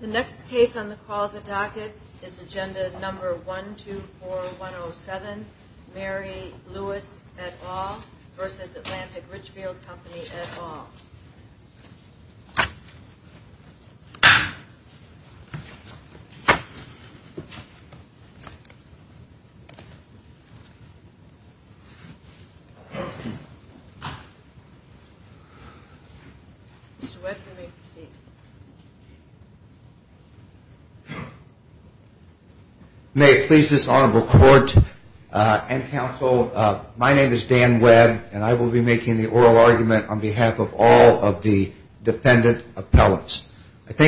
The next case on the call of the docket is Agenda No. 124107, Mary Lewis et al. v. Atlantic Richfield Co. et al. Mr. Webb, you may proceed. I think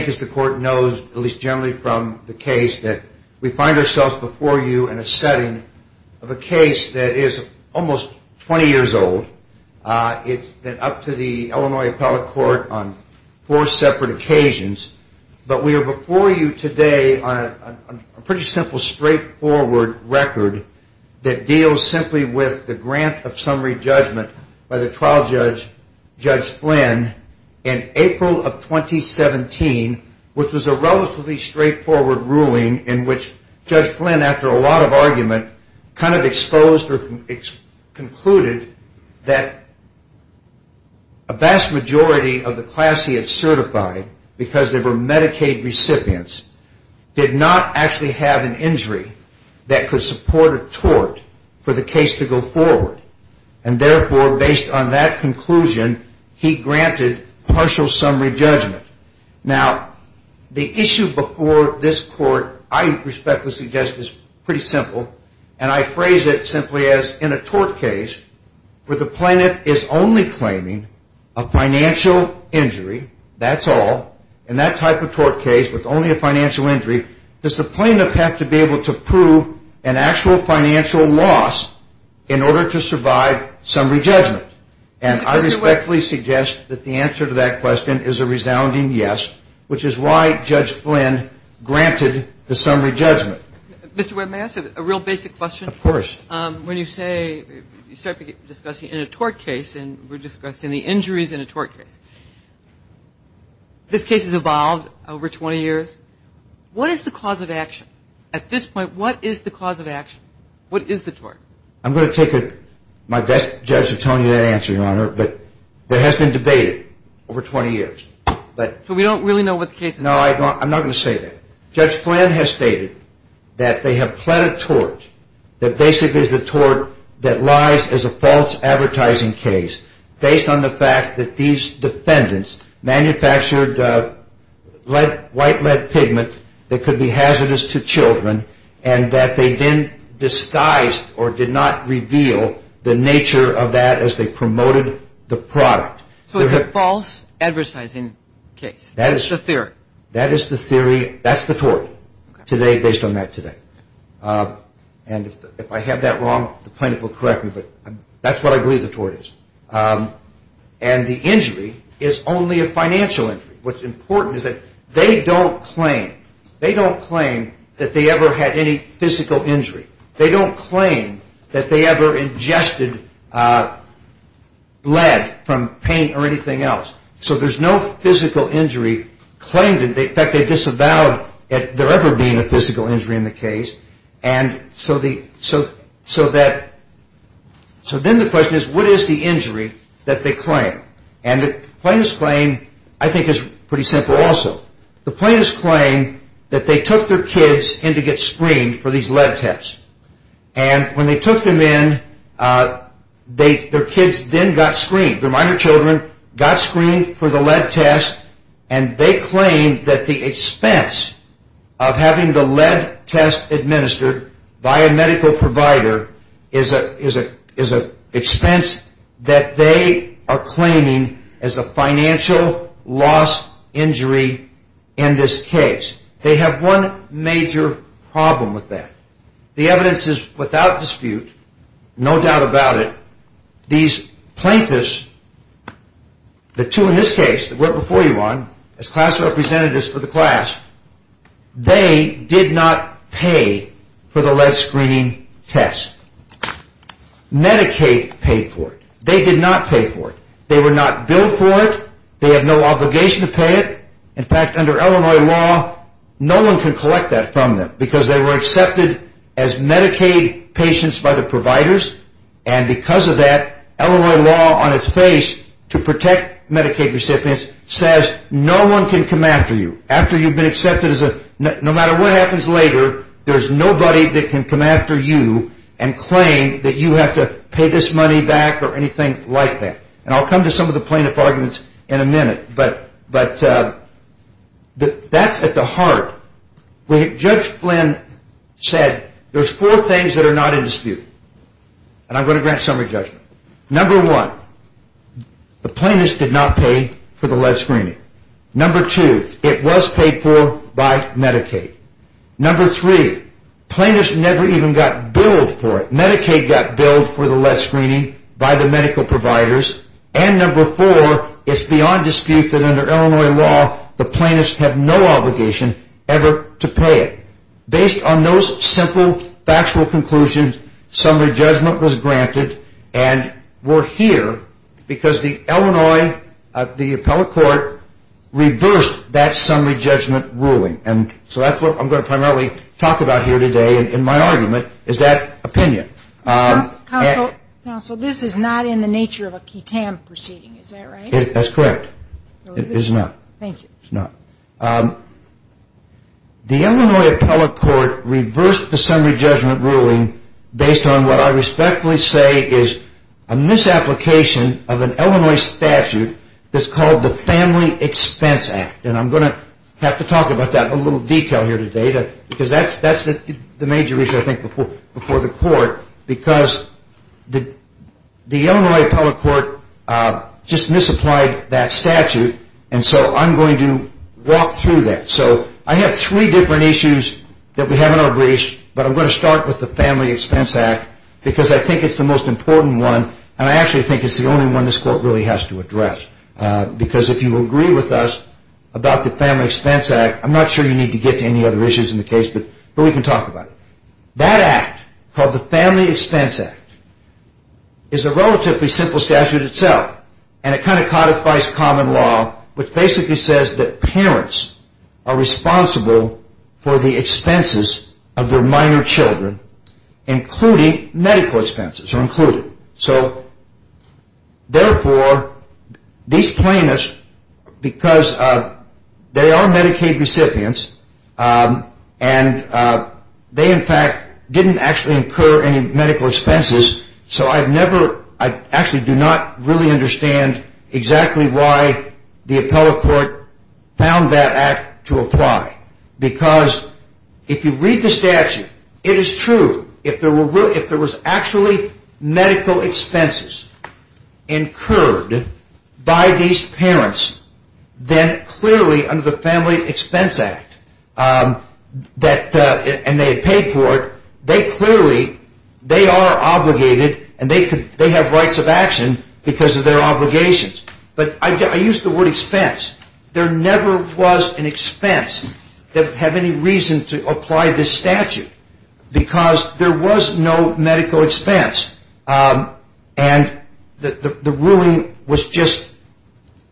as the Court knows, at least generally from the case, that we find ourselves before you in a setting of a case that is almost 20 years old. It's been up to the Illinois Appellate Court on four separate occasions. But we are before you today on a pretty simple, straightforward record that deals simply with the grant of summary judgment by the trial judge, Judge Flynn, in April of 2017, which was a relatively straightforward ruling in which Judge Flynn, after a lot of argument, kind of exposed or concluded that a vast majority of the class he had certified, because they were Medicaid recipients, did not actually have an injury that could support a tort for the case to go forward. And therefore, based on that conclusion, he granted partial summary judgment. Now, the issue before this Court, I respectfully suggest, is pretty simple. And I phrase it simply as, in a tort case where the plaintiff is only claiming a financial injury, that's all, in that type of tort case with only a financial injury, does the plaintiff have to be able to prove an actual financial loss in order to survive summary judgment? And I respectfully suggest that the answer to that question is a resounding yes, which is why Judge Flynn granted the summary judgment. Mr. Webb, may I ask you a real basic question? Of course. When you say, you start discussing in a tort case, and we're discussing the injuries in a tort case, this case has evolved over 20 years. What is the cause of action? At this point, what is the cause of action? What is the tort? I'm going to take my best judge to tell you that answer, Your Honor, but there has been debate over 20 years. So we don't really know what the case is? No, I'm not going to say that. Judge Flynn has stated that they have pled a tort that basically is a tort that lies as a false advertising case based on the fact that these defendants manufactured white lead pigment that could be hazardous to children and that they then disguised or did not reveal the nature of that as they promoted the product. So it's a false advertising case. That is the theory. That is the theory. That's the tort today based on that today. And if I have that wrong, the plaintiff will correct me, but that's what I believe the tort is. And the injury is only a financial injury. What's important is that they don't claim. They don't claim that they ever had any physical injury. They don't claim that they ever ingested lead from paint or anything else. So there's no physical injury claimed. In fact, they disavowed there ever being a physical injury in the case. And so then the question is what is the injury that they claim? And the plaintiff's claim I think is pretty simple also. The plaintiff's claim that they took their kids in to get screened for these lead tests. And when they took them in, their kids then got screened. Their minor children got screened for the lead test, and they claim that the expense of having the lead test administered by a medical provider is an expense that they are claiming as a financial loss injury in this case. They have one major problem with that. The evidence is without dispute, no doubt about it, these plaintiffs, the two in this case that went before you on as class representatives for the class, they did not pay for the lead screening test. Medicaid paid for it. They did not pay for it. They were not billed for it. They have no obligation to pay it. In fact, under Illinois law, no one can collect that from them because they were accepted as Medicaid patients by the providers. And because of that, Illinois law on its face to protect Medicaid recipients says no one can come after you after you've been accepted. No matter what happens later, there's nobody that can come after you and claim that you have to pay this money back or anything like that. And I'll come to some of the plaintiff arguments in a minute, but that's at the heart. Judge Flynn said there's four things that are not in dispute, and I'm going to grant summary judgment. Number one, the plaintiffs did not pay for the lead screening. Number two, it was paid for by Medicaid. Number three, plaintiffs never even got billed for it. Medicaid got billed for the lead screening by the medical providers. And number four, it's beyond dispute that under Illinois law, the plaintiffs have no obligation ever to pay it. Based on those simple factual conclusions, summary judgment was granted and we're here because the Illinois appellate court reversed that summary judgment ruling. And so that's what I'm going to primarily talk about here today in my argument is that opinion. Counsel, this is not in the nature of a QTAM proceeding, is that right? That's correct. It is not. Thank you. It's not. The Illinois appellate court reversed the summary judgment ruling based on what I respectfully say is a misapplication of an Illinois statute that's called the Family Expense Act, and I'm going to have to talk about that in a little detail here today because that's the major issue I think before the court because the Illinois appellate court just misapplied that statute, and so I'm going to walk through that. So I have three different issues that we have in our briefs, but I'm going to start with the Family Expense Act because I think it's the most important one and I actually think it's the only one this court really has to address because if you agree with us about the Family Expense Act, I'm not sure you need to get to any other issues in the case, but we can talk about it. That act called the Family Expense Act is a relatively simple statute itself and it kind of codifies common law, which basically says that parents are responsible for the expenses of their minor children, including medical expenses. So therefore, these plaintiffs, because they are Medicaid recipients and they in fact didn't actually incur any medical expenses, so I've never, I actually do not really understand exactly why the appellate court found that act to apply because if you read the statute, it is true. If there was actually medical expenses incurred by these parents, then clearly under the Family Expense Act, and they had paid for it, they clearly, they are obligated and they have rights of action because of their obligations. But I use the word expense. There never was an expense that had any reason to apply this statute because there was no medical expense and the ruling was just,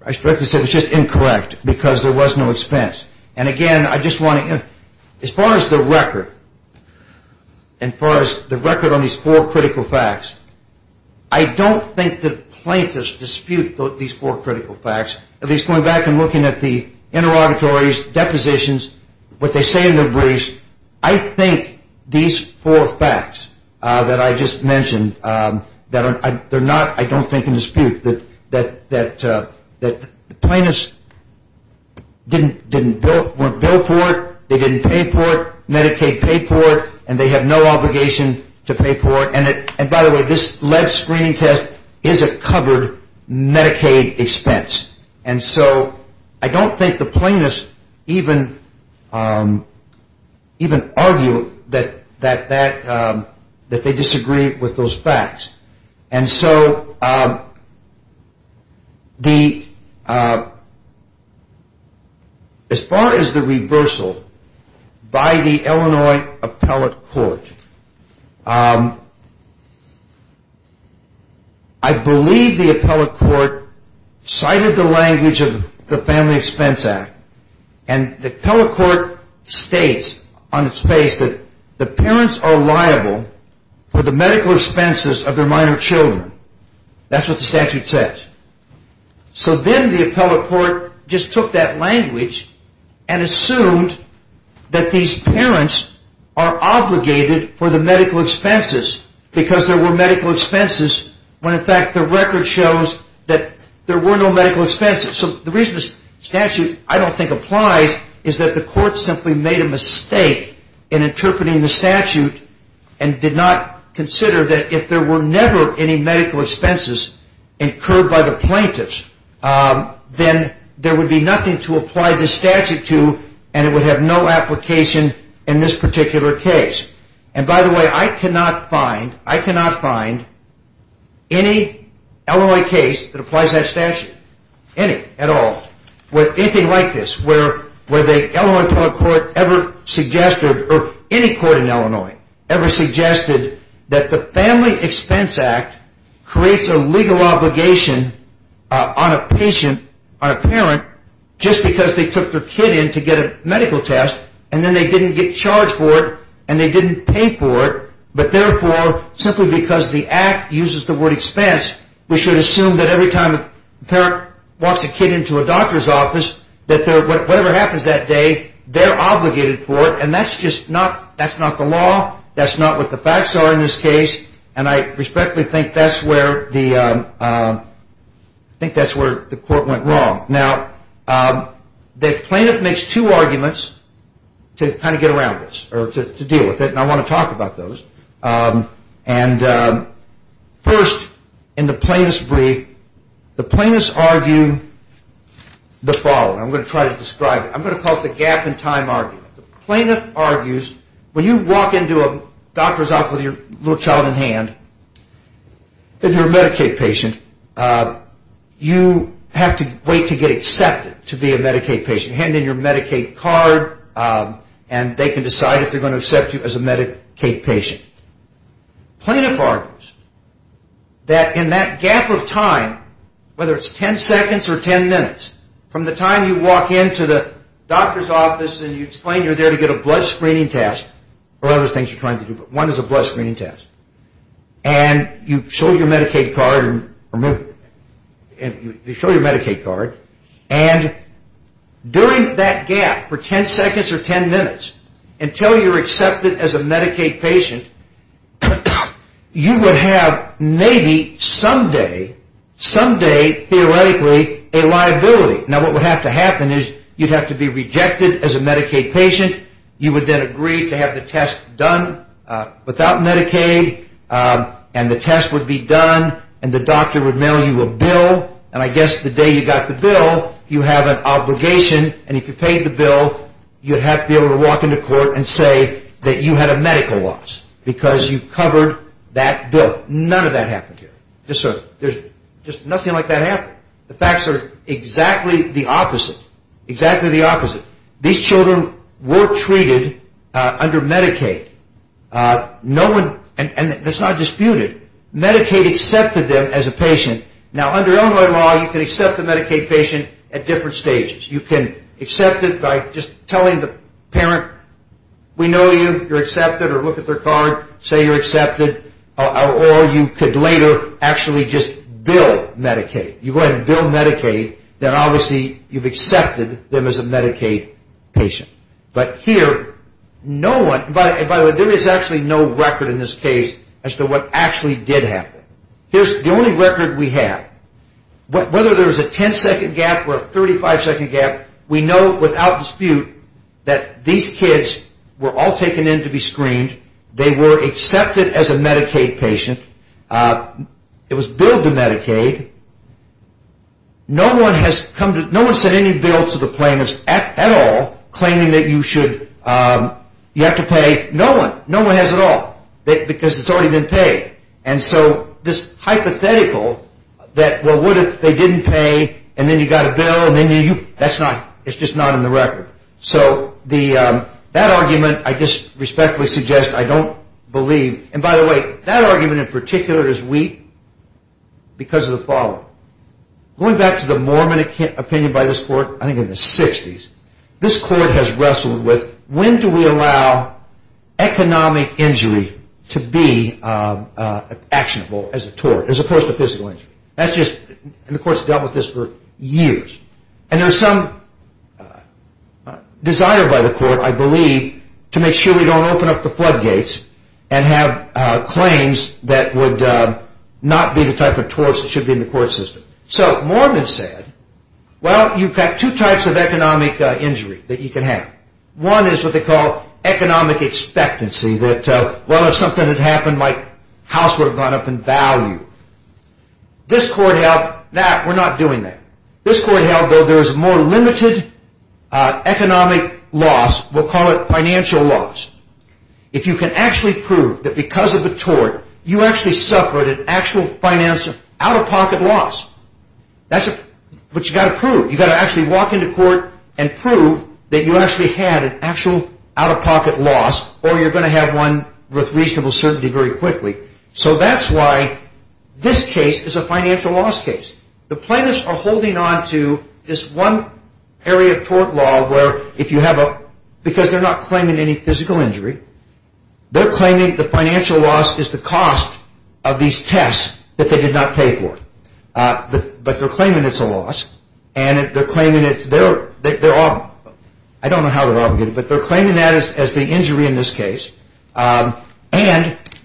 I suspect it was just incorrect because there was no expense. And again, I just want to, as far as the record, as far as the record on these four critical facts, I don't think the plaintiffs dispute these four critical facts. At least going back and looking at the interrogatories, depositions, what they say in the briefs, I think these four facts that I just mentioned, they're not, I don't think, in dispute. The plaintiffs didn't bill for it, they didn't pay for it, Medicaid paid for it, and they have no obligation to pay for it. And by the way, this lead screening test is a covered Medicaid expense. And so I don't think the plaintiffs even argue that they disagree with those facts. And so as far as the reversal by the Illinois appellate court, I believe the appellate court cited the language of the Family Expense Act. And the appellate court states on its face that the parents are liable for the medical expenses of their minor children. That's what the statute says. So then the appellate court just took that language and assumed that these parents are obligated for the medical expenses because there were medical expenses when, in fact, the record shows that there were no medical expenses. So the reason the statute I don't think applies is that the court simply made a mistake in interpreting the statute and did not consider that if there were never any medical expenses incurred by the plaintiffs, then there would be nothing to apply the statute to and it would have no application in this particular case. And by the way, I cannot find any Illinois case that applies that statute, any at all, with anything like this, where the Illinois appellate court ever suggested, or any court in Illinois ever suggested, that the Family Expense Act creates a legal obligation on a patient, on a parent, just because they took their kid in to get a medical test and then they didn't get charged for it and they didn't pay for it, but therefore, simply because the act uses the word expense, we should assume that every time a parent walks a kid into a doctor's office that whatever happens that day, they're obligated for it and that's just not the law, that's not what the facts are in this case, and I respectfully think that's where the court went wrong. Now, the plaintiff makes two arguments to kind of get around this, or to deal with it, and I want to talk about those. And first, in the plaintiff's brief, the plaintiffs argue the following. I'm going to try to describe it. I'm going to call it the gap in time argument. The plaintiff argues, when you walk into a doctor's office with your little child in hand, and you're a Medicaid patient, you have to wait to get accepted to be a Medicaid patient. You hand in your Medicaid card and they can decide if they're going to accept you as a Medicaid patient. The plaintiff argues that in that gap of time, whether it's 10 seconds or 10 minutes, from the time you walk into the doctor's office and you explain you're there to get a blood screening test, or other things you're trying to do, but one is a blood screening test, and you show your Medicaid card, and during that gap, for 10 seconds or 10 minutes, until you're accepted as a Medicaid patient, you would have maybe, someday, someday, theoretically, a liability. Now, what would have to happen is you'd have to be rejected as a Medicaid patient. You would then agree to have the test done without Medicaid, and the test would be done, and the doctor would mail you a bill, and I guess the day you got the bill, you have an obligation, and if you paid the bill, you'd have to be able to walk into court and say that you had a medical loss because you covered that bill. None of that happened here. Just nothing like that happened. The facts are exactly the opposite. Exactly the opposite. These children were treated under Medicaid, and that's not disputed. Medicaid accepted them as a patient. Now, under Illinois law, you can accept a Medicaid patient at different stages. You can accept it by just telling the parent, we know you, you're accepted, or look at their card, say you're accepted, or you could later actually just bill Medicaid. You go ahead and bill Medicaid, then obviously you've accepted them as a Medicaid patient. But here, no one, by the way, there is actually no record in this case as to what actually did happen. Here's the only record we have. Whether there's a 10-second gap or a 35-second gap, we know without dispute that these kids were all taken in to be screened. They were accepted as a Medicaid patient. It was billed to Medicaid. No one sent any bill to the plaintiffs at all claiming that you have to pay. No one. No one has at all because it's already been paid. And so this hypothetical that, well, what if they didn't pay, and then you got a bill, that's not, it's just not in the record. So that argument I just respectfully suggest I don't believe. And by the way, that argument in particular is weak because of the following. Going back to the Mormon opinion by this court, I think in the 60s, this court has wrestled with when do we allow economic injury to be actionable as a tort as opposed to physical injury. That's just, and the court's dealt with this for years. And there's some desire by the court, I believe, to make sure we don't open up the floodgates and have claims that would not be the type of torts that should be in the court system. So Mormon said, well, you've got two types of economic injury that you can have. One is what they call economic expectancy that, well, if something had happened, my house would have gone up in value. This court held that we're not doing that. This court held that there's more limited economic loss. We'll call it financial loss. If you can actually prove that because of a tort, you actually suffered an actual financial out-of-pocket loss. That's what you've got to prove. You've got to actually walk into court and prove that you actually had an actual out-of-pocket loss or you're going to have one with reasonable certainty very quickly. So that's why this case is a financial loss case. The plaintiffs are holding on to this one area of tort law where if you have a, because they're not claiming any physical injury, they're claiming the financial loss is the cost of these tests that they did not pay for. But they're claiming it's a loss. And they're claiming it's their, I don't know how they're obligated, but they're claiming that as the injury in this case. And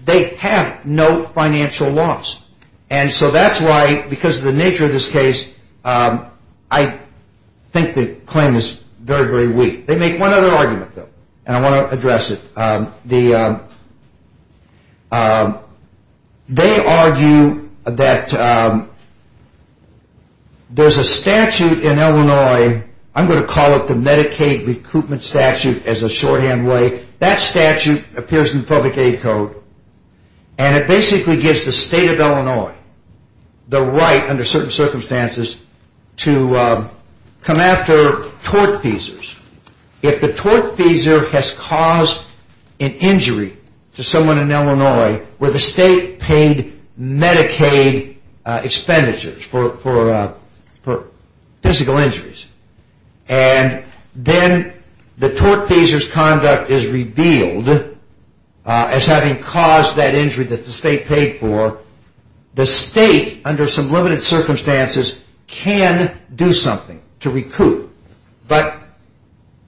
they have no financial loss. And so that's why, because of the nature of this case, I think the claim is very, very weak. They make one other argument, though, and I want to address it. They argue that there's a statute in Illinois. I'm going to call it the Medicaid Recruitment Statute as a shorthand way. That statute appears in the public aid code. And it basically gives the state of Illinois the right under certain circumstances to come after tort feasors. If the tort feasor has caused an injury to someone in Illinois where the state paid Medicaid expenditures for physical injuries, and then the tort feasor's conduct is revealed as having caused that injury that the state paid for, the state under some limited circumstances can do something to recoup. But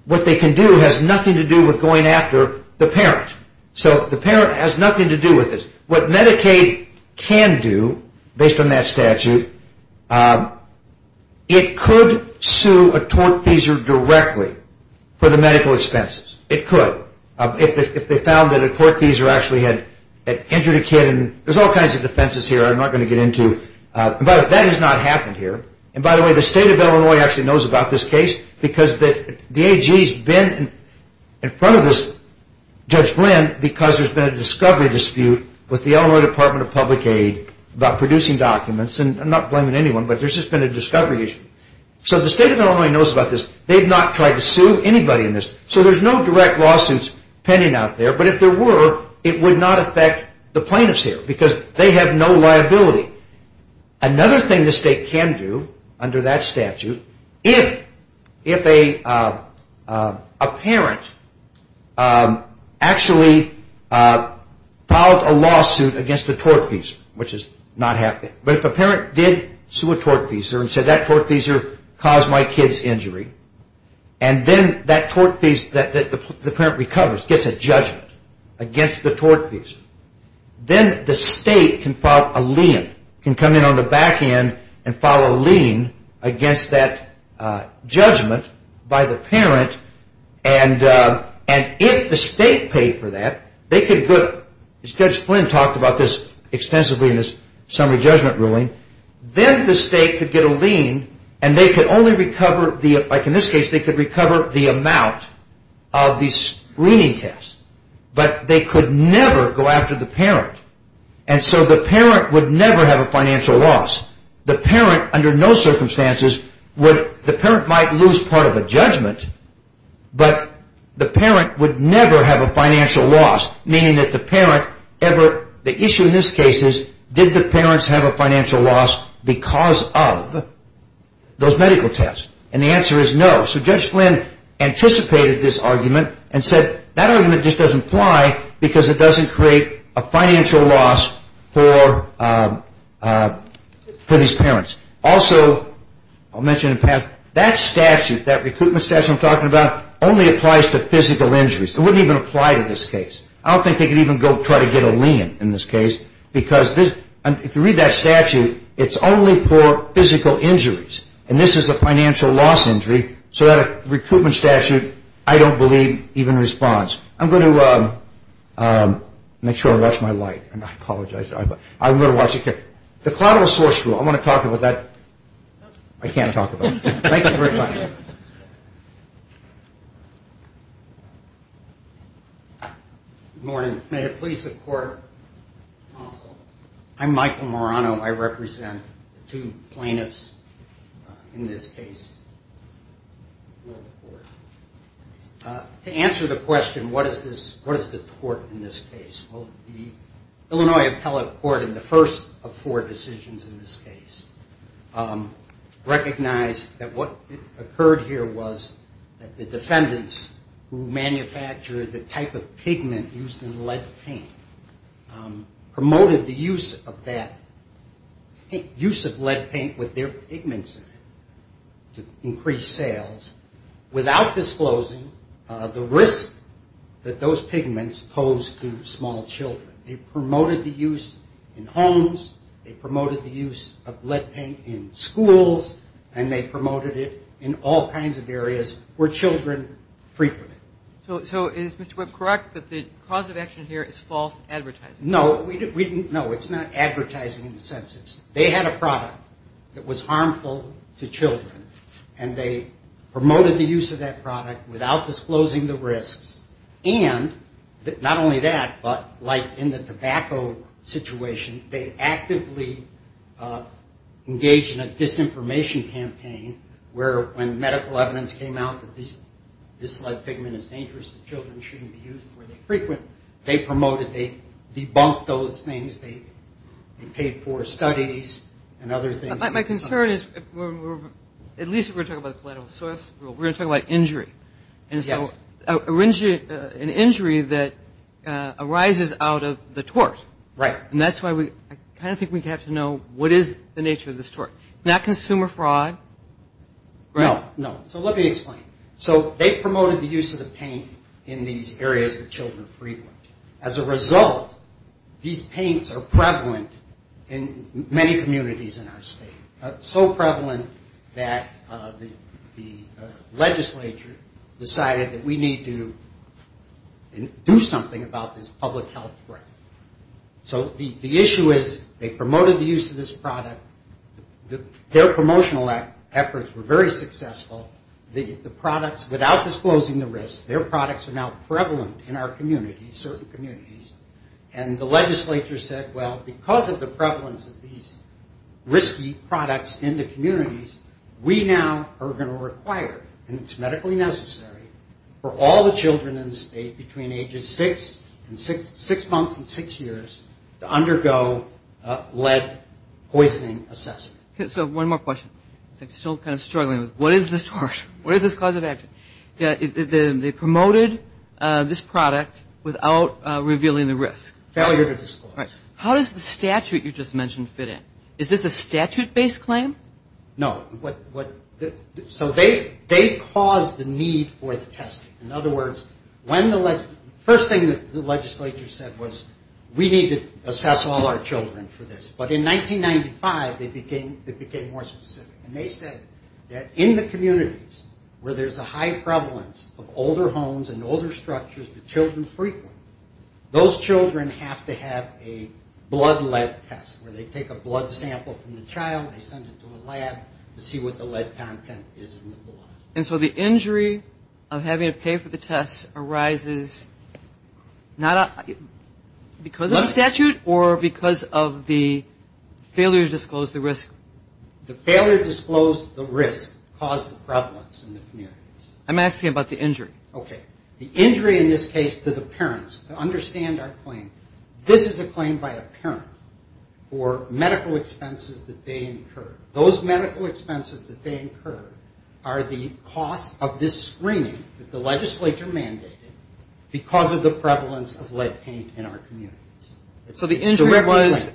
what they can do has nothing to do with going after the parent. So the parent has nothing to do with this. What Medicaid can do, based on that statute, it could sue a tort feasor directly for the medical expenses. It could. If they found that a tort feasor actually had injured a kid, and there's all kinds of defenses here I'm not going to get into. But that has not happened here. And by the way, the state of Illinois actually knows about this case because the AG has been in front of Judge Flynn because there's been a discovery dispute with the Illinois Department of Public Aid about producing documents. And I'm not blaming anyone, but there's just been a discovery issue. So the state of Illinois knows about this. They've not tried to sue anybody in this. So there's no direct lawsuits pending out there. But if there were, it would not affect the plaintiffs here because they have no liability. Another thing the state can do under that statute, if a parent actually filed a lawsuit against a tort feasor, which has not happened. But if a parent did sue a tort feasor and said that tort feasor caused my kid's injury, and then that tort feasor that the parent recovers gets a judgment against the tort feasor, then the state can file a lien. It can come in on the back end and file a lien against that judgment by the parent. And if the state paid for that, they could get, as Judge Flynn talked about this extensively in his summary judgment ruling, then the state could get a lien and they could only recover, like in this case, they could recover the amount of the screening test. But they could never go after the parent. And so the parent would never have a financial loss. The parent, under no circumstances, the parent might lose part of a judgment, but the parent would never have a financial loss. Meaning that the parent ever, the issue in this case is, did the parents have a financial loss because of those medical tests? And the answer is no. So Judge Flynn anticipated this argument and said, that argument just doesn't apply because it doesn't create a financial loss for these parents. Also, I'll mention in passing, that statute, that recruitment statute I'm talking about, only applies to physical injuries. It wouldn't even apply to this case. I don't think they could even go try to get a lien in this case, because if you read that statute, it's only for physical injuries. And this is a financial loss injury, so that recruitment statute, I don't believe even responds. I'm going to make sure I watch my light. I apologize. I'm going to watch it. The collateral source rule, I want to talk about that. I can't talk about it. Thank you for your time. Good morning. May it please the Court. I'm Michael Morano. I represent two plaintiffs in this case. To answer the question, what is the tort in this case? Well, the Illinois Appellate Court in the first of four decisions in this case recognized that what occurred here was that the defendants who manufactured the type of pigment used in lead paint promoted the use of lead paint with their pigments in it to increase sales, without disclosing the risk that those pigments pose to small children. They promoted the use in homes, they promoted the use of lead paint in schools, and they promoted it in all kinds of areas where children frequent it. So is Mr. Webb correct that the cause of action here is false advertising? No, it's not advertising in the sense. They had a product that was harmful to children, and they promoted the use of that product without disclosing the risks. And not only that, but like in the tobacco situation, they actively engaged in a disinformation campaign where when medical evidence came out that this lead pigment is dangerous to children and shouldn't be used where they frequent, they promoted, they debunked those things, they paid for studies and other things. My concern is, at least if we're talking about the collateral source rule, we're going to talk about injury. Yes. And so an injury that arises out of the tort. Right. And that's why I kind of think we have to know what is the nature of this tort. It's not consumer fraud, right? No, no. So let me explain. So they promoted the use of the paint in these areas that children frequent. As a result, these paints are prevalent in many communities in our state, so prevalent that the legislature decided that we need to do something about this public health threat. So the issue is they promoted the use of this product. Their promotional efforts were very successful. The products, without disclosing the risks, their products are now prevalent in our communities, certain communities, and the legislature said, well, because of the prevalence of these risky products in the communities, we now are going to require, and it's medically necessary, for all the children in the state between ages six months and six years to undergo lead poisoning assessment. Okay. So one more question. I'm still kind of struggling. What is this tort? What is this cause of action? They promoted this product without revealing the risk. Failure to disclose. Right. How does the statute you just mentioned fit in? Is this a statute-based claim? No. So they caused the need for the testing. In other words, the first thing the legislature said was we need to assess all our children for this. But in 1995, it became more specific, and they said that in the communities where there's a high prevalence of older homes and older structures that children frequent, those children have to have a blood lead test, where they take a blood sample from the child, they send it to a lab to see what the lead content is in the blood. And so the injury of having to pay for the test arises because of the statute or because of the failure to disclose the risk? The failure to disclose the risk caused the prevalence in the communities. I'm asking about the injury. Okay. The injury in this case to the parents. To understand our claim, this is a claim by a parent for medical expenses that they incurred. Those medical expenses that they incurred are the cost of this screening that the legislature mandated because of the prevalence of lead paint in our communities. So the injury was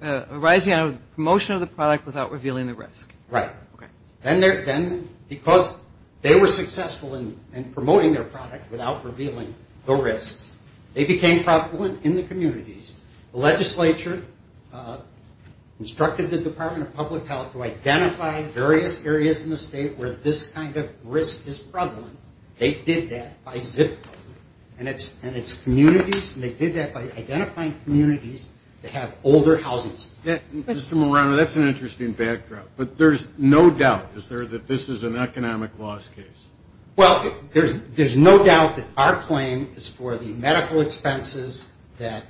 arising out of the promotion of the product without revealing the risk. Right. Okay. Then because they were successful in promoting their product without revealing the risks, they became prevalent in the communities. The legislature instructed the Department of Public Health to identify various areas in the state where this kind of risk is prevalent. They did that by zip code. And it's communities, and they did that by identifying communities that have older housings. Mr. Morano, that's an interesting backdrop. But there's no doubt, is there, that this is an economic loss case? Well, there's no doubt that our claim is for the medical expenses that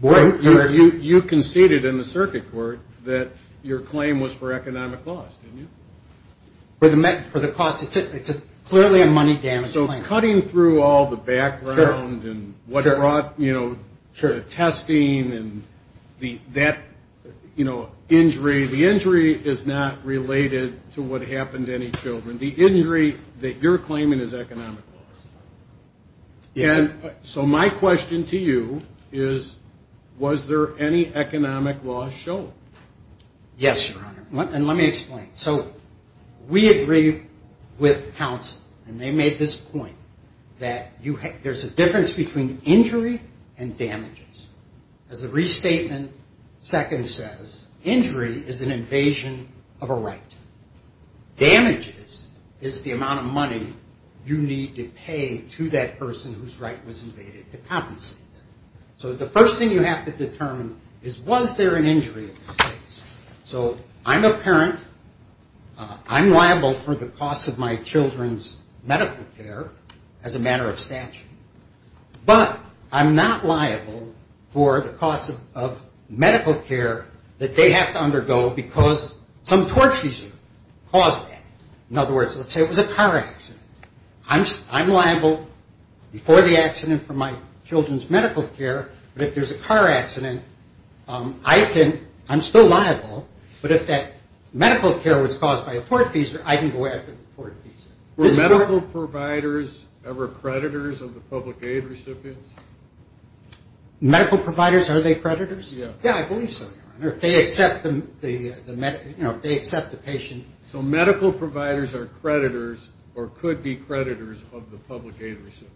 were incurred. You conceded in the circuit court that your claim was for economic loss, didn't you? For the cost. It's clearly a money damage claim. So cutting through all the background and what brought, you know, testing and that, you know, injury. The injury is not related to what happened to any children. The injury that you're claiming is economic loss. So my question to you is, was there any economic loss shown? Yes, Your Honor. And let me explain. So we agree with counsel, and they made this point, that there's a difference between injury and damages. As the restatement second says, injury is an invasion of a right. Damages is the amount of money you need to pay to that person whose right was invaded to compensate them. So the first thing you have to determine is, was there an injury in this case? So I'm a parent. I'm liable for the cost of my children's medical care as a matter of statute. But I'm not liable for the cost of medical care that they have to undergo because some torture caused that. In other words, let's say it was a car accident. I'm liable before the accident for my children's medical care, but if there's a car accident, I'm still liable. But if that medical care was caused by a tortfeasor, I can go after the tortfeasor. Were medical providers ever creditors of the public aid recipients? Medical providers, are they creditors? Yeah, I believe so, Your Honor. If they accept the patient. So medical providers are creditors or could be creditors of the public aid recipients.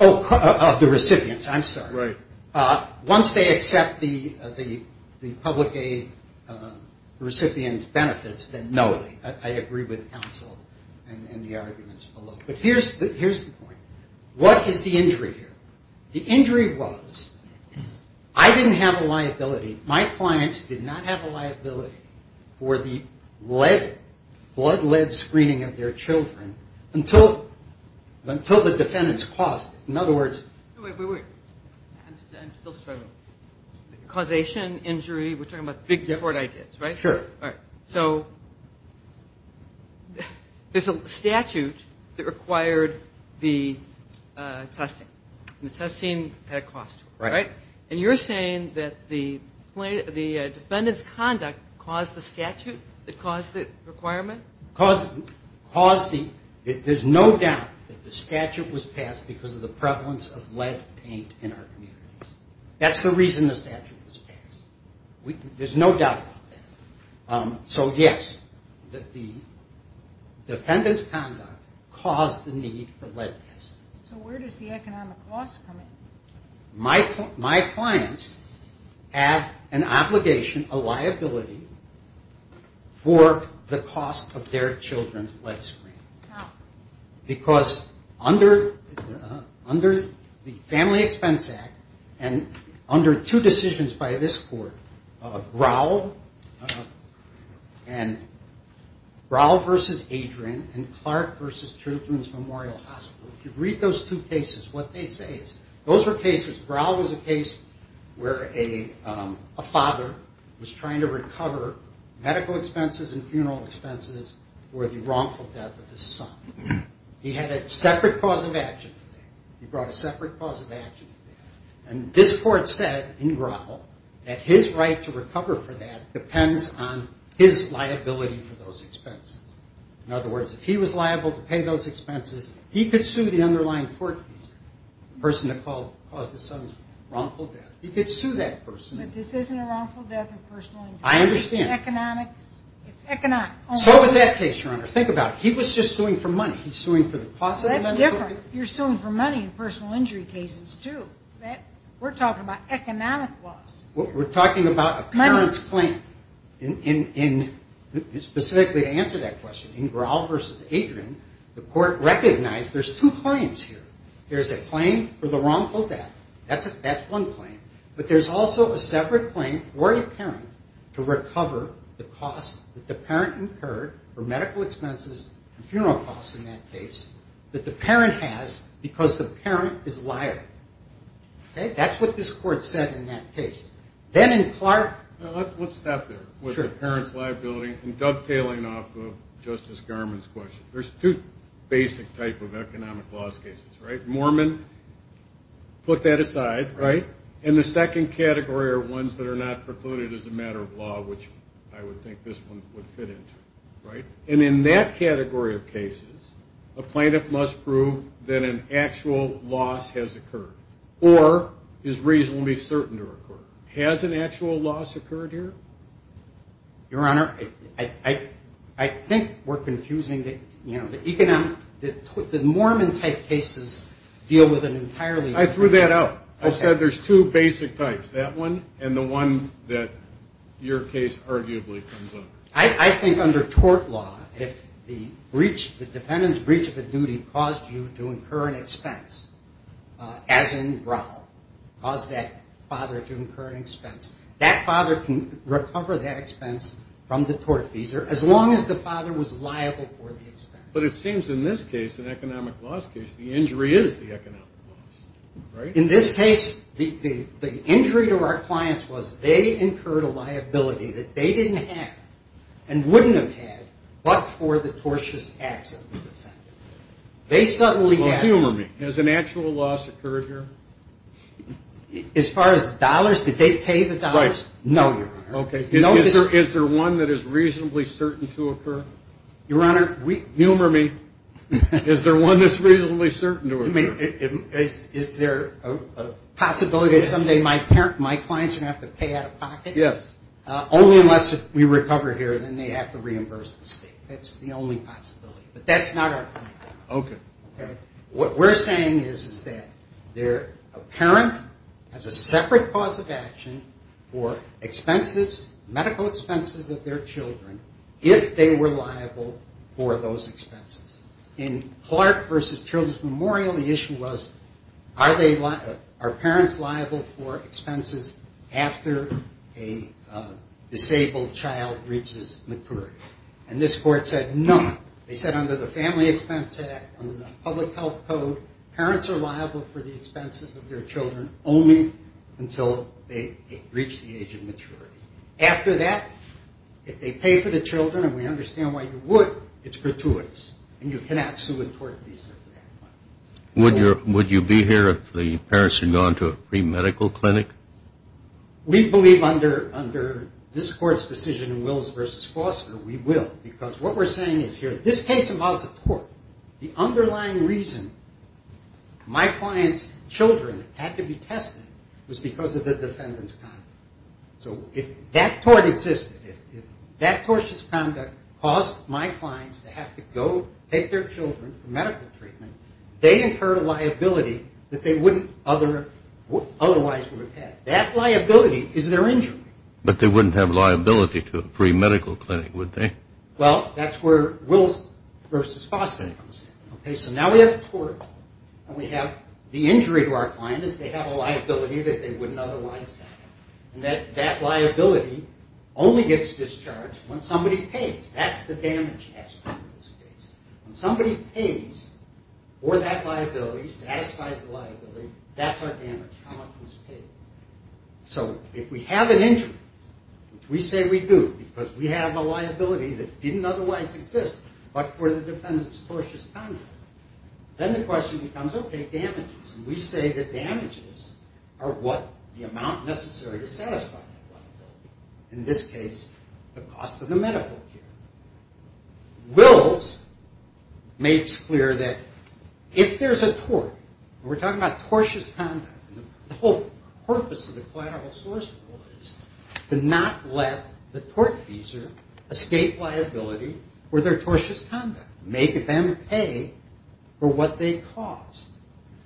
Oh, of the recipients. I'm sorry. Right. Once they accept the public aid recipient's benefits, then no, I agree with counsel and the arguments below. But here's the point. What is the injury here? The injury was I didn't have a liability. My clients did not have a liability for the blood lead screening of their children until the defendants caused it. In other words. Wait, wait, wait. I'm still struggling. Causation, injury, we're talking about big tort ideas, right? Sure. So there's a statute that required the testing, and the testing had a cost to it, right? And you're saying that the defendant's conduct caused the statute that caused the requirement? There's no doubt that the statute was passed because of the prevalence of lead paint in our communities. That's the reason the statute was passed. There's no doubt about that. So, yes, the defendant's conduct caused the need for lead testing. So where does the economic loss come in? My clients have an obligation, a liability, for the cost of their children's lead screening. How? Because under the Family Expense Act, and under two decisions by this court, Growl, and Growl v. Adrian, and Clark v. Children's Memorial Hospital. If you read those two cases, what they say is those were cases, Growl was a case where a father was trying to recover medical expenses and funeral expenses for the wrongful death of his son. He had a separate cause of action for that. He brought a separate cause of action for that. And this court said in Growl that his right to recover for that depends on his liability for those expenses. In other words, if he was liable to pay those expenses, he could sue the underlying court. The person that caused the son's wrongful death. He could sue that person. But this isn't a wrongful death or personal injury. I understand. It's economics. It's economics. So was that case, Your Honor. Think about it. He was just suing for money. He's suing for the cost of the medical expenses. That's different. You're suing for money in personal injury cases, too. We're talking about economic loss. We're talking about a parent's claim. Specifically to answer that question, in Growl v. Adrian, the court recognized there's two claims here. There's a claim for the wrongful death. That's one claim. But there's also a separate claim for a parent to recover the cost that the parent incurred for medical expenses and funeral costs in that case that the parent has because the parent is liable. Okay? That's what this court said in that case. Let's stop there with the parent's liability and dovetailing off of Justice Garmon's question. There's two basic type of economic loss cases, right? Mormon, put that aside, right? And the second category are ones that are not precluded as a matter of law, which I would think this one would fit into, right? And in that category of cases, a plaintiff must prove that an actual loss has occurred or is reasonably certain to occur. Has an actual loss occurred here? Your Honor, I think we're confusing the economic. The Mormon type cases deal with it entirely. I threw that out. I said there's two basic types, that one and the one that your case arguably comes up. I think under tort law, if the defendant's breach of a duty caused you to incur an expense, as in Growl, caused that father to incur an expense, that father can recover that expense from the tortfeasor, as long as the father was liable for the expense. But it seems in this case, an economic loss case, the injury is the economic loss, right? In this case, the injury to our clients was they incurred a liability that they didn't have and wouldn't have had, Well, humor me. Has an actual loss occurred here? As far as dollars, did they pay the dollars? No, your Honor. Okay. Is there one that is reasonably certain to occur? Your Honor, humor me. Is there one that's reasonably certain to occur? Is there a possibility that someday my clients are going to have to pay out of pocket? Yes. Only unless we recover here, then they have to reimburse the state. That's the only possibility. But that's not our plan. Okay. What we're saying is that a parent has a separate cause of action for medical expenses of their children, if they were liable for those expenses. In Clark v. Children's Memorial, the issue was are parents liable for expenses after a disabled child reaches maturity? And this court said no. They said under the Family Expense Act, under the Public Health Code, parents are liable for the expenses of their children only until they reach the age of maturity. After that, if they pay for the children, and we understand why you would, it's gratuitous, and you cannot sue a tort visa at that point. Would you be here if the parents had gone to a pre-medical clinic? We believe under this court's decision in Wills v. Foster, we will. Because what we're saying is here, this case involves a tort. The underlying reason my client's children had to be tested was because of the defendant's conduct. So if that tort existed, if that tortious conduct caused my clients to have to go take their children for medical treatment, they incurred a liability that they wouldn't otherwise have. That liability is their injury. But they wouldn't have liability to a pre-medical clinic, would they? Well, that's where Wills v. Foster comes in. So now we have a tort, and we have the injury to our client is they have a liability that they wouldn't otherwise have. And that liability only gets discharged when somebody pays. That's the damage aspect of this case. When somebody pays for that liability, satisfies the liability, that's our damage, how much was paid. So if we have an injury, which we say we do because we have a liability that didn't otherwise exist, but for the defendant's tortious conduct, then the question becomes, okay, damages. And we say that damages are what? The amount necessary to satisfy that liability. In this case, the cost of the medical care. Wills makes clear that if there's a tort, and we're talking about tortious conduct, the whole purpose of the collateral source rule is to not let the tortfeasor escape liability for their tortious conduct, make them pay for what they caused.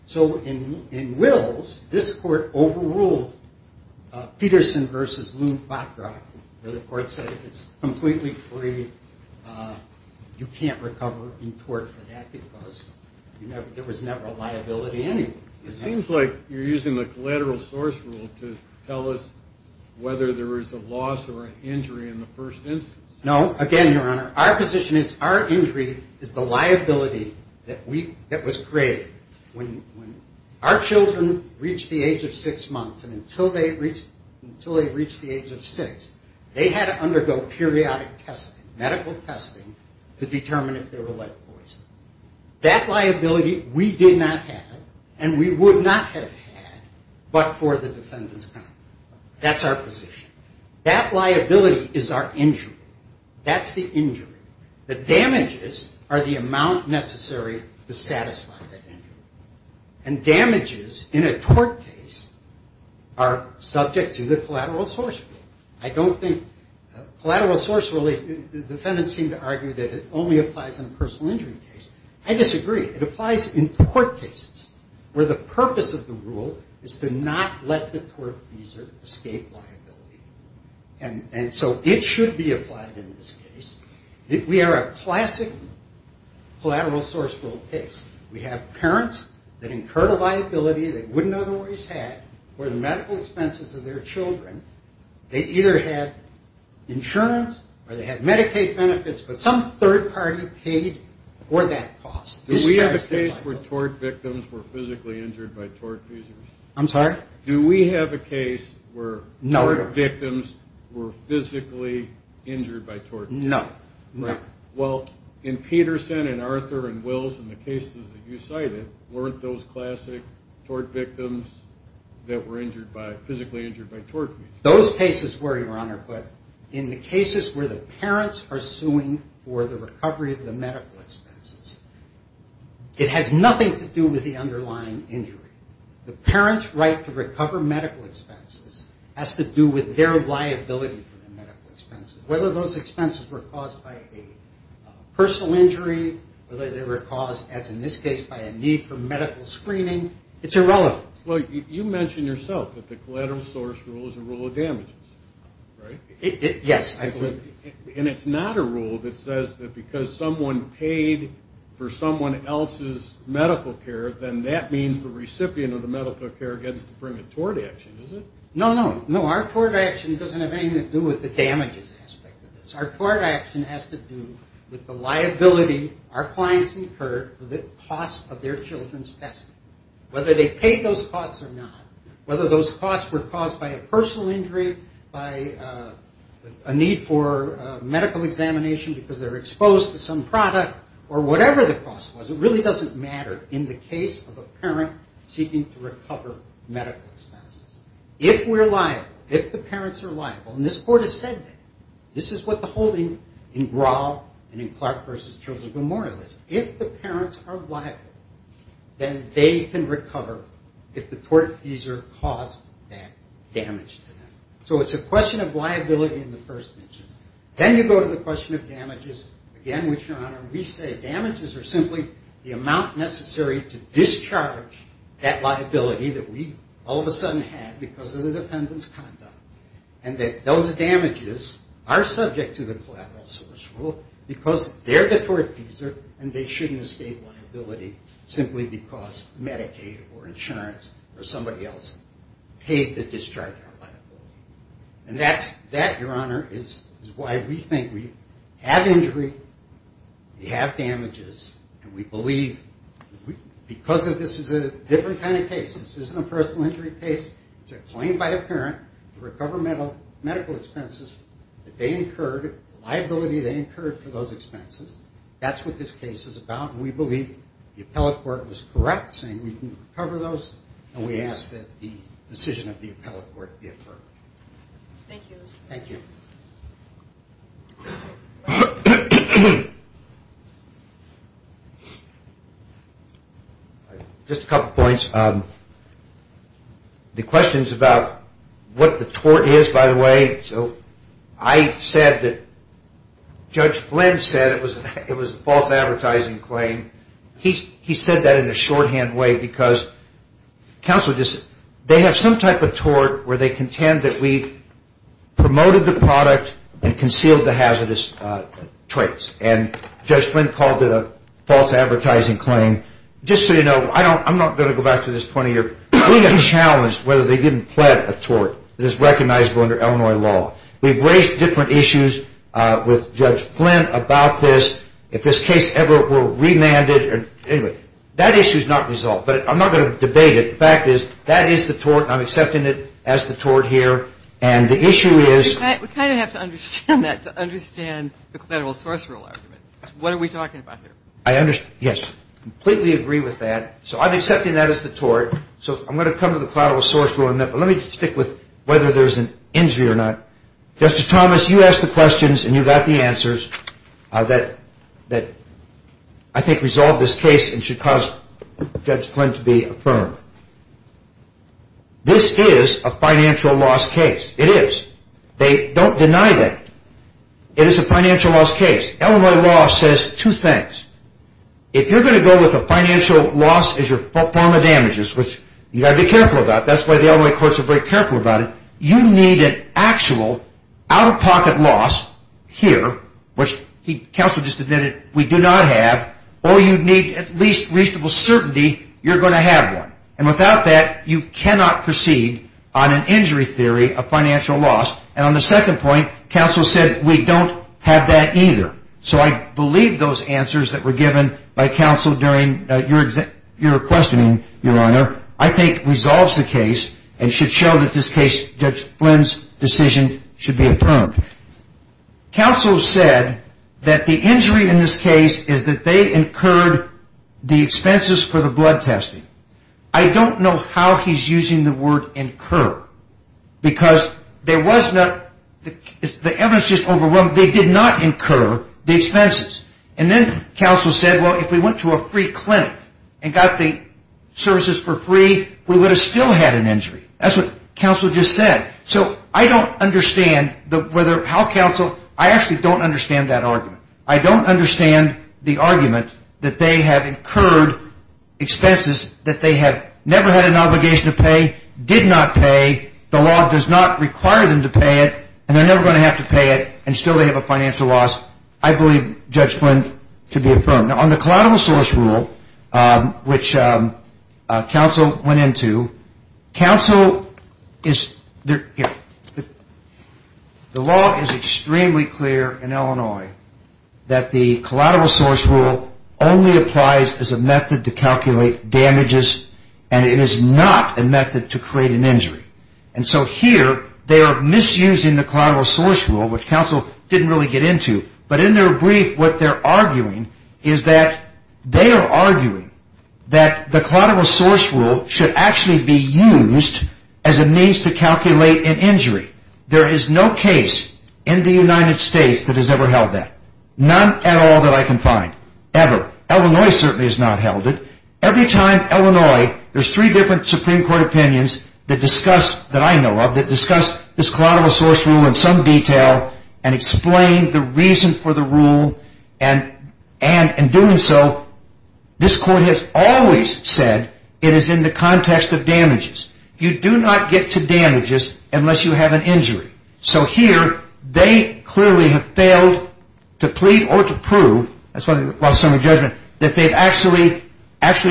So in Wills, this court overruled Peterson v. Lund-Bockrock, where the court said it's completely free. You can't recover in tort for that because there was never a liability anyway. It seems like you're using the collateral source rule to tell us whether there was a loss or an injury in the first instance. No, again, Your Honor, our position is our injury is the liability that was created. When our children reached the age of six months, and until they reached the age of six, they had to undergo periodic testing, medical testing, to determine if they were like boys. That liability we did not have, and we would not have had, but for the defendant's conduct. That's our position. That liability is our injury. That's the injury. The damages are the amount necessary to satisfy that injury. And damages in a tort case are subject to the collateral source rule. I don't think collateral source rule, the defendants seem to argue that it only applies in a personal injury case. I disagree. It applies in tort cases where the purpose of the rule is to not let the tort user escape liability. And so it should be applied in this case. We are a classic collateral source rule case. We have parents that incurred a liability they wouldn't otherwise have for the medical expenses of their children. They either had insurance or they had Medicaid benefits, but some third party paid for that cost. Do we have a case where tort victims were physically injured by tort users? I'm sorry? Do we have a case where tort victims were physically injured by tort users? No. Well, in Peterson and Arthur and Wills and the cases that you cited, weren't those classic tort victims that were physically injured by tort users? Those cases were, Your Honor, but in the cases where the parents are suing for the recovery of the medical expenses, it has nothing to do with the underlying injury. The parents' right to recover medical expenses has to do with their liability for the medical expenses. Whether those expenses were caused by a personal injury, whether they were caused, as in this case, by a need for medical screening, it's irrelevant. Well, you mentioned yourself that the collateral source rule is a rule of damages, right? Yes, I believe it is. And it's not a rule that says that because someone paid for someone else's medical care, then that means the recipient of the medical care gets to bring a tort action, is it? No, no. No, our tort action doesn't have anything to do with the damages aspect of this. Our tort action has to do with the liability our clients incurred for the cost of their children's testing, whether they paid those costs or not, whether those costs were caused by a personal injury, by a need for medical examination because they were exposed to some product, or whatever the cost was. It really doesn't matter in the case of a parent seeking to recover medical expenses. If we're liable, if the parents are liable, and this court has said that. This is what the holding in Grahl and in Clark versus Children's Memorial is. If the parents are liable, then they can recover if the tortfeasor caused that damage to them. So it's a question of liability in the first instance. Then you go to the question of damages, again, which, Your Honor, we say damages are simply the amount necessary to discharge that liability that we all of a sudden had because of the defendant's conduct, and that those damages are subject to the collateral source rule because they're the tortfeasor and they shouldn't escape liability simply because Medicaid or insurance or somebody else paid to discharge that liability. And that, Your Honor, is why we think we have injury, we have damages, and we believe because this is a different kind of case. This isn't a personal injury case. It's a claim by a parent to recover medical expenses that they incurred, the liability they incurred for those expenses. That's what this case is about, and we believe the appellate court was correct, saying we can recover those, and we ask that the decision of the appellate court be affirmed. Thank you. Thank you. Just a couple points. The question is about what the tort is, by the way. I said that Judge Flynn said it was a false advertising claim. He said that in a shorthand way because they have some type of tort where they contend that we promoted the product and concealed the hazardous traits, and Judge Flynn called it a false advertising claim. Just so you know, I'm not going to go back to this 20-year period. We have challenged whether they didn't plant a tort that is recognizable under Illinois law. We've raised different issues with Judge Flynn about this. If this case ever were remanded or anyway, that issue is not resolved, but I'm not going to debate it. The fact is that is the tort, and I'm accepting it as the tort here, and the issue is. We kind of have to understand that to understand the collateral source rule argument. What are we talking about here? Yes, I completely agree with that. So I'm accepting that as the tort, so I'm going to come to the collateral source rule. Let me stick with whether there's an injury or not. Justice Thomas, you asked the questions, and you got the answers that I think resolve this case and should cause Judge Flynn to be affirmed. This is a financial loss case. It is. They don't deny that. It is a financial loss case. Illinois law says two things. If you're going to go with a financial loss as your form of damages, which you've got to be careful about, that's why the Illinois courts are very careful about it, you need an actual out-of-pocket loss here, which counsel just admitted we do not have, or you need at least reasonable certainty you're going to have one. And without that, you cannot proceed on an injury theory of financial loss. And on the second point, counsel said we don't have that either. So I believe those answers that were given by counsel during your questioning, Your Honor, I think resolves the case and should show that this case, Judge Flynn's decision, should be affirmed. Counsel said that the injury in this case is that they incurred the expenses for the blood testing. I don't know how he's using the word incur because there was not the evidence just overwhelmed. They did not incur the expenses. And then counsel said, well, if we went to a free clinic and got the services for free, we would have still had an injury. That's what counsel just said. So I don't understand how counsel, I actually don't understand that argument. I don't understand the argument that they have incurred expenses that they have never had an obligation to pay, did not pay, the law does not require them to pay it, and they're never going to have to pay it, and still they have a financial loss. I believe, Judge Flynn, to be affirmed. Now, on the collateral source rule, which counsel went into, counsel is, here. The law is extremely clear in Illinois that the collateral source rule only applies as a method to calculate damages, and it is not a method to create an injury. And so here, they are misusing the collateral source rule, which counsel didn't really get into, but in their brief, what they're arguing is that they are arguing that the collateral source rule should actually be used as a means to calculate an injury. There is no case in the United States that has ever held that, none at all that I can find, ever. Illinois certainly has not held it. Every time Illinois, there's three different Supreme Court opinions that discuss, that I know of, that discuss this collateral source rule in some detail, and explain the reason for the rule, and in doing so, this Court has always said it is in the context of damages. You do not get to damages unless you have an injury. So here, they clearly have failed to plead or to prove, that's why they lost some of the judgment, that they've actually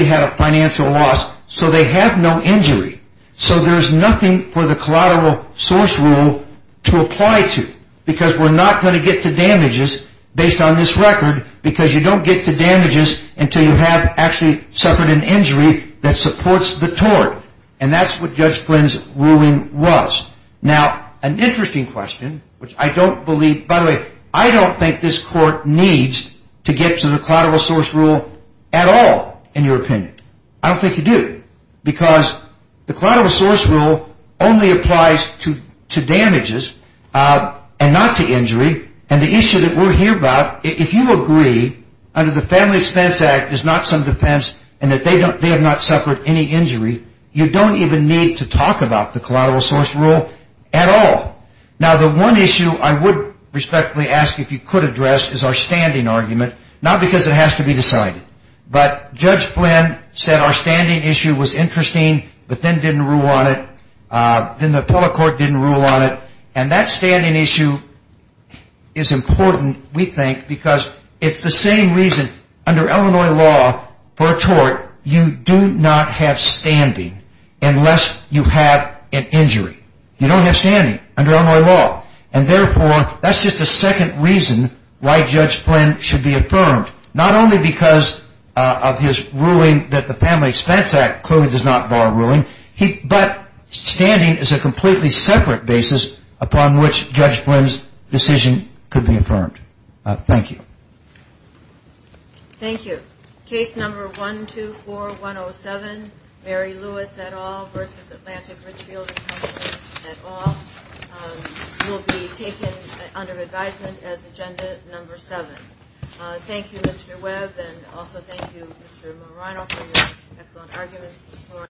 had a financial loss, so they have no injury. So there's nothing for the collateral source rule to apply to, because we're not going to get to damages based on this record, because you don't get to damages until you have actually suffered an injury that supports the tort. And that's what Judge Flynn's ruling was. Now, an interesting question, which I don't believe, by the way, I don't think this Court needs to get to the collateral source rule at all, in your opinion. I don't think you do, because the collateral source rule only applies to damages, and not to injury. And the issue that we're here about, if you agree, under the Family Expense Act, there's not some defense in that they have not suffered any injury, you don't even need to talk about the collateral source rule at all. Now, the one issue I would respectfully ask if you could address is our standing argument, not because it has to be decided, but Judge Flynn said our standing issue was interesting, but then didn't rule on it, then the appellate court didn't rule on it, and that standing issue is important, we think, because it's the same reason, under Illinois law for a tort, you do not have standing unless you have an injury. You don't have standing under Illinois law, and therefore, that's just the second reason why Judge Flynn should be affirmed, not only because of his ruling that the Family Expense Act clearly does not bar ruling, but standing is a completely separate basis upon which Judge Flynn's decision could be affirmed. Thank you. Thank you. Case number 124107, Mary Lewis et al. v. Atlantic Richfield et al. will be taken under advisement as agenda number seven. Thank you, Mr. Webb, and also thank you, Mr. Marino, for your excellent arguments this morning.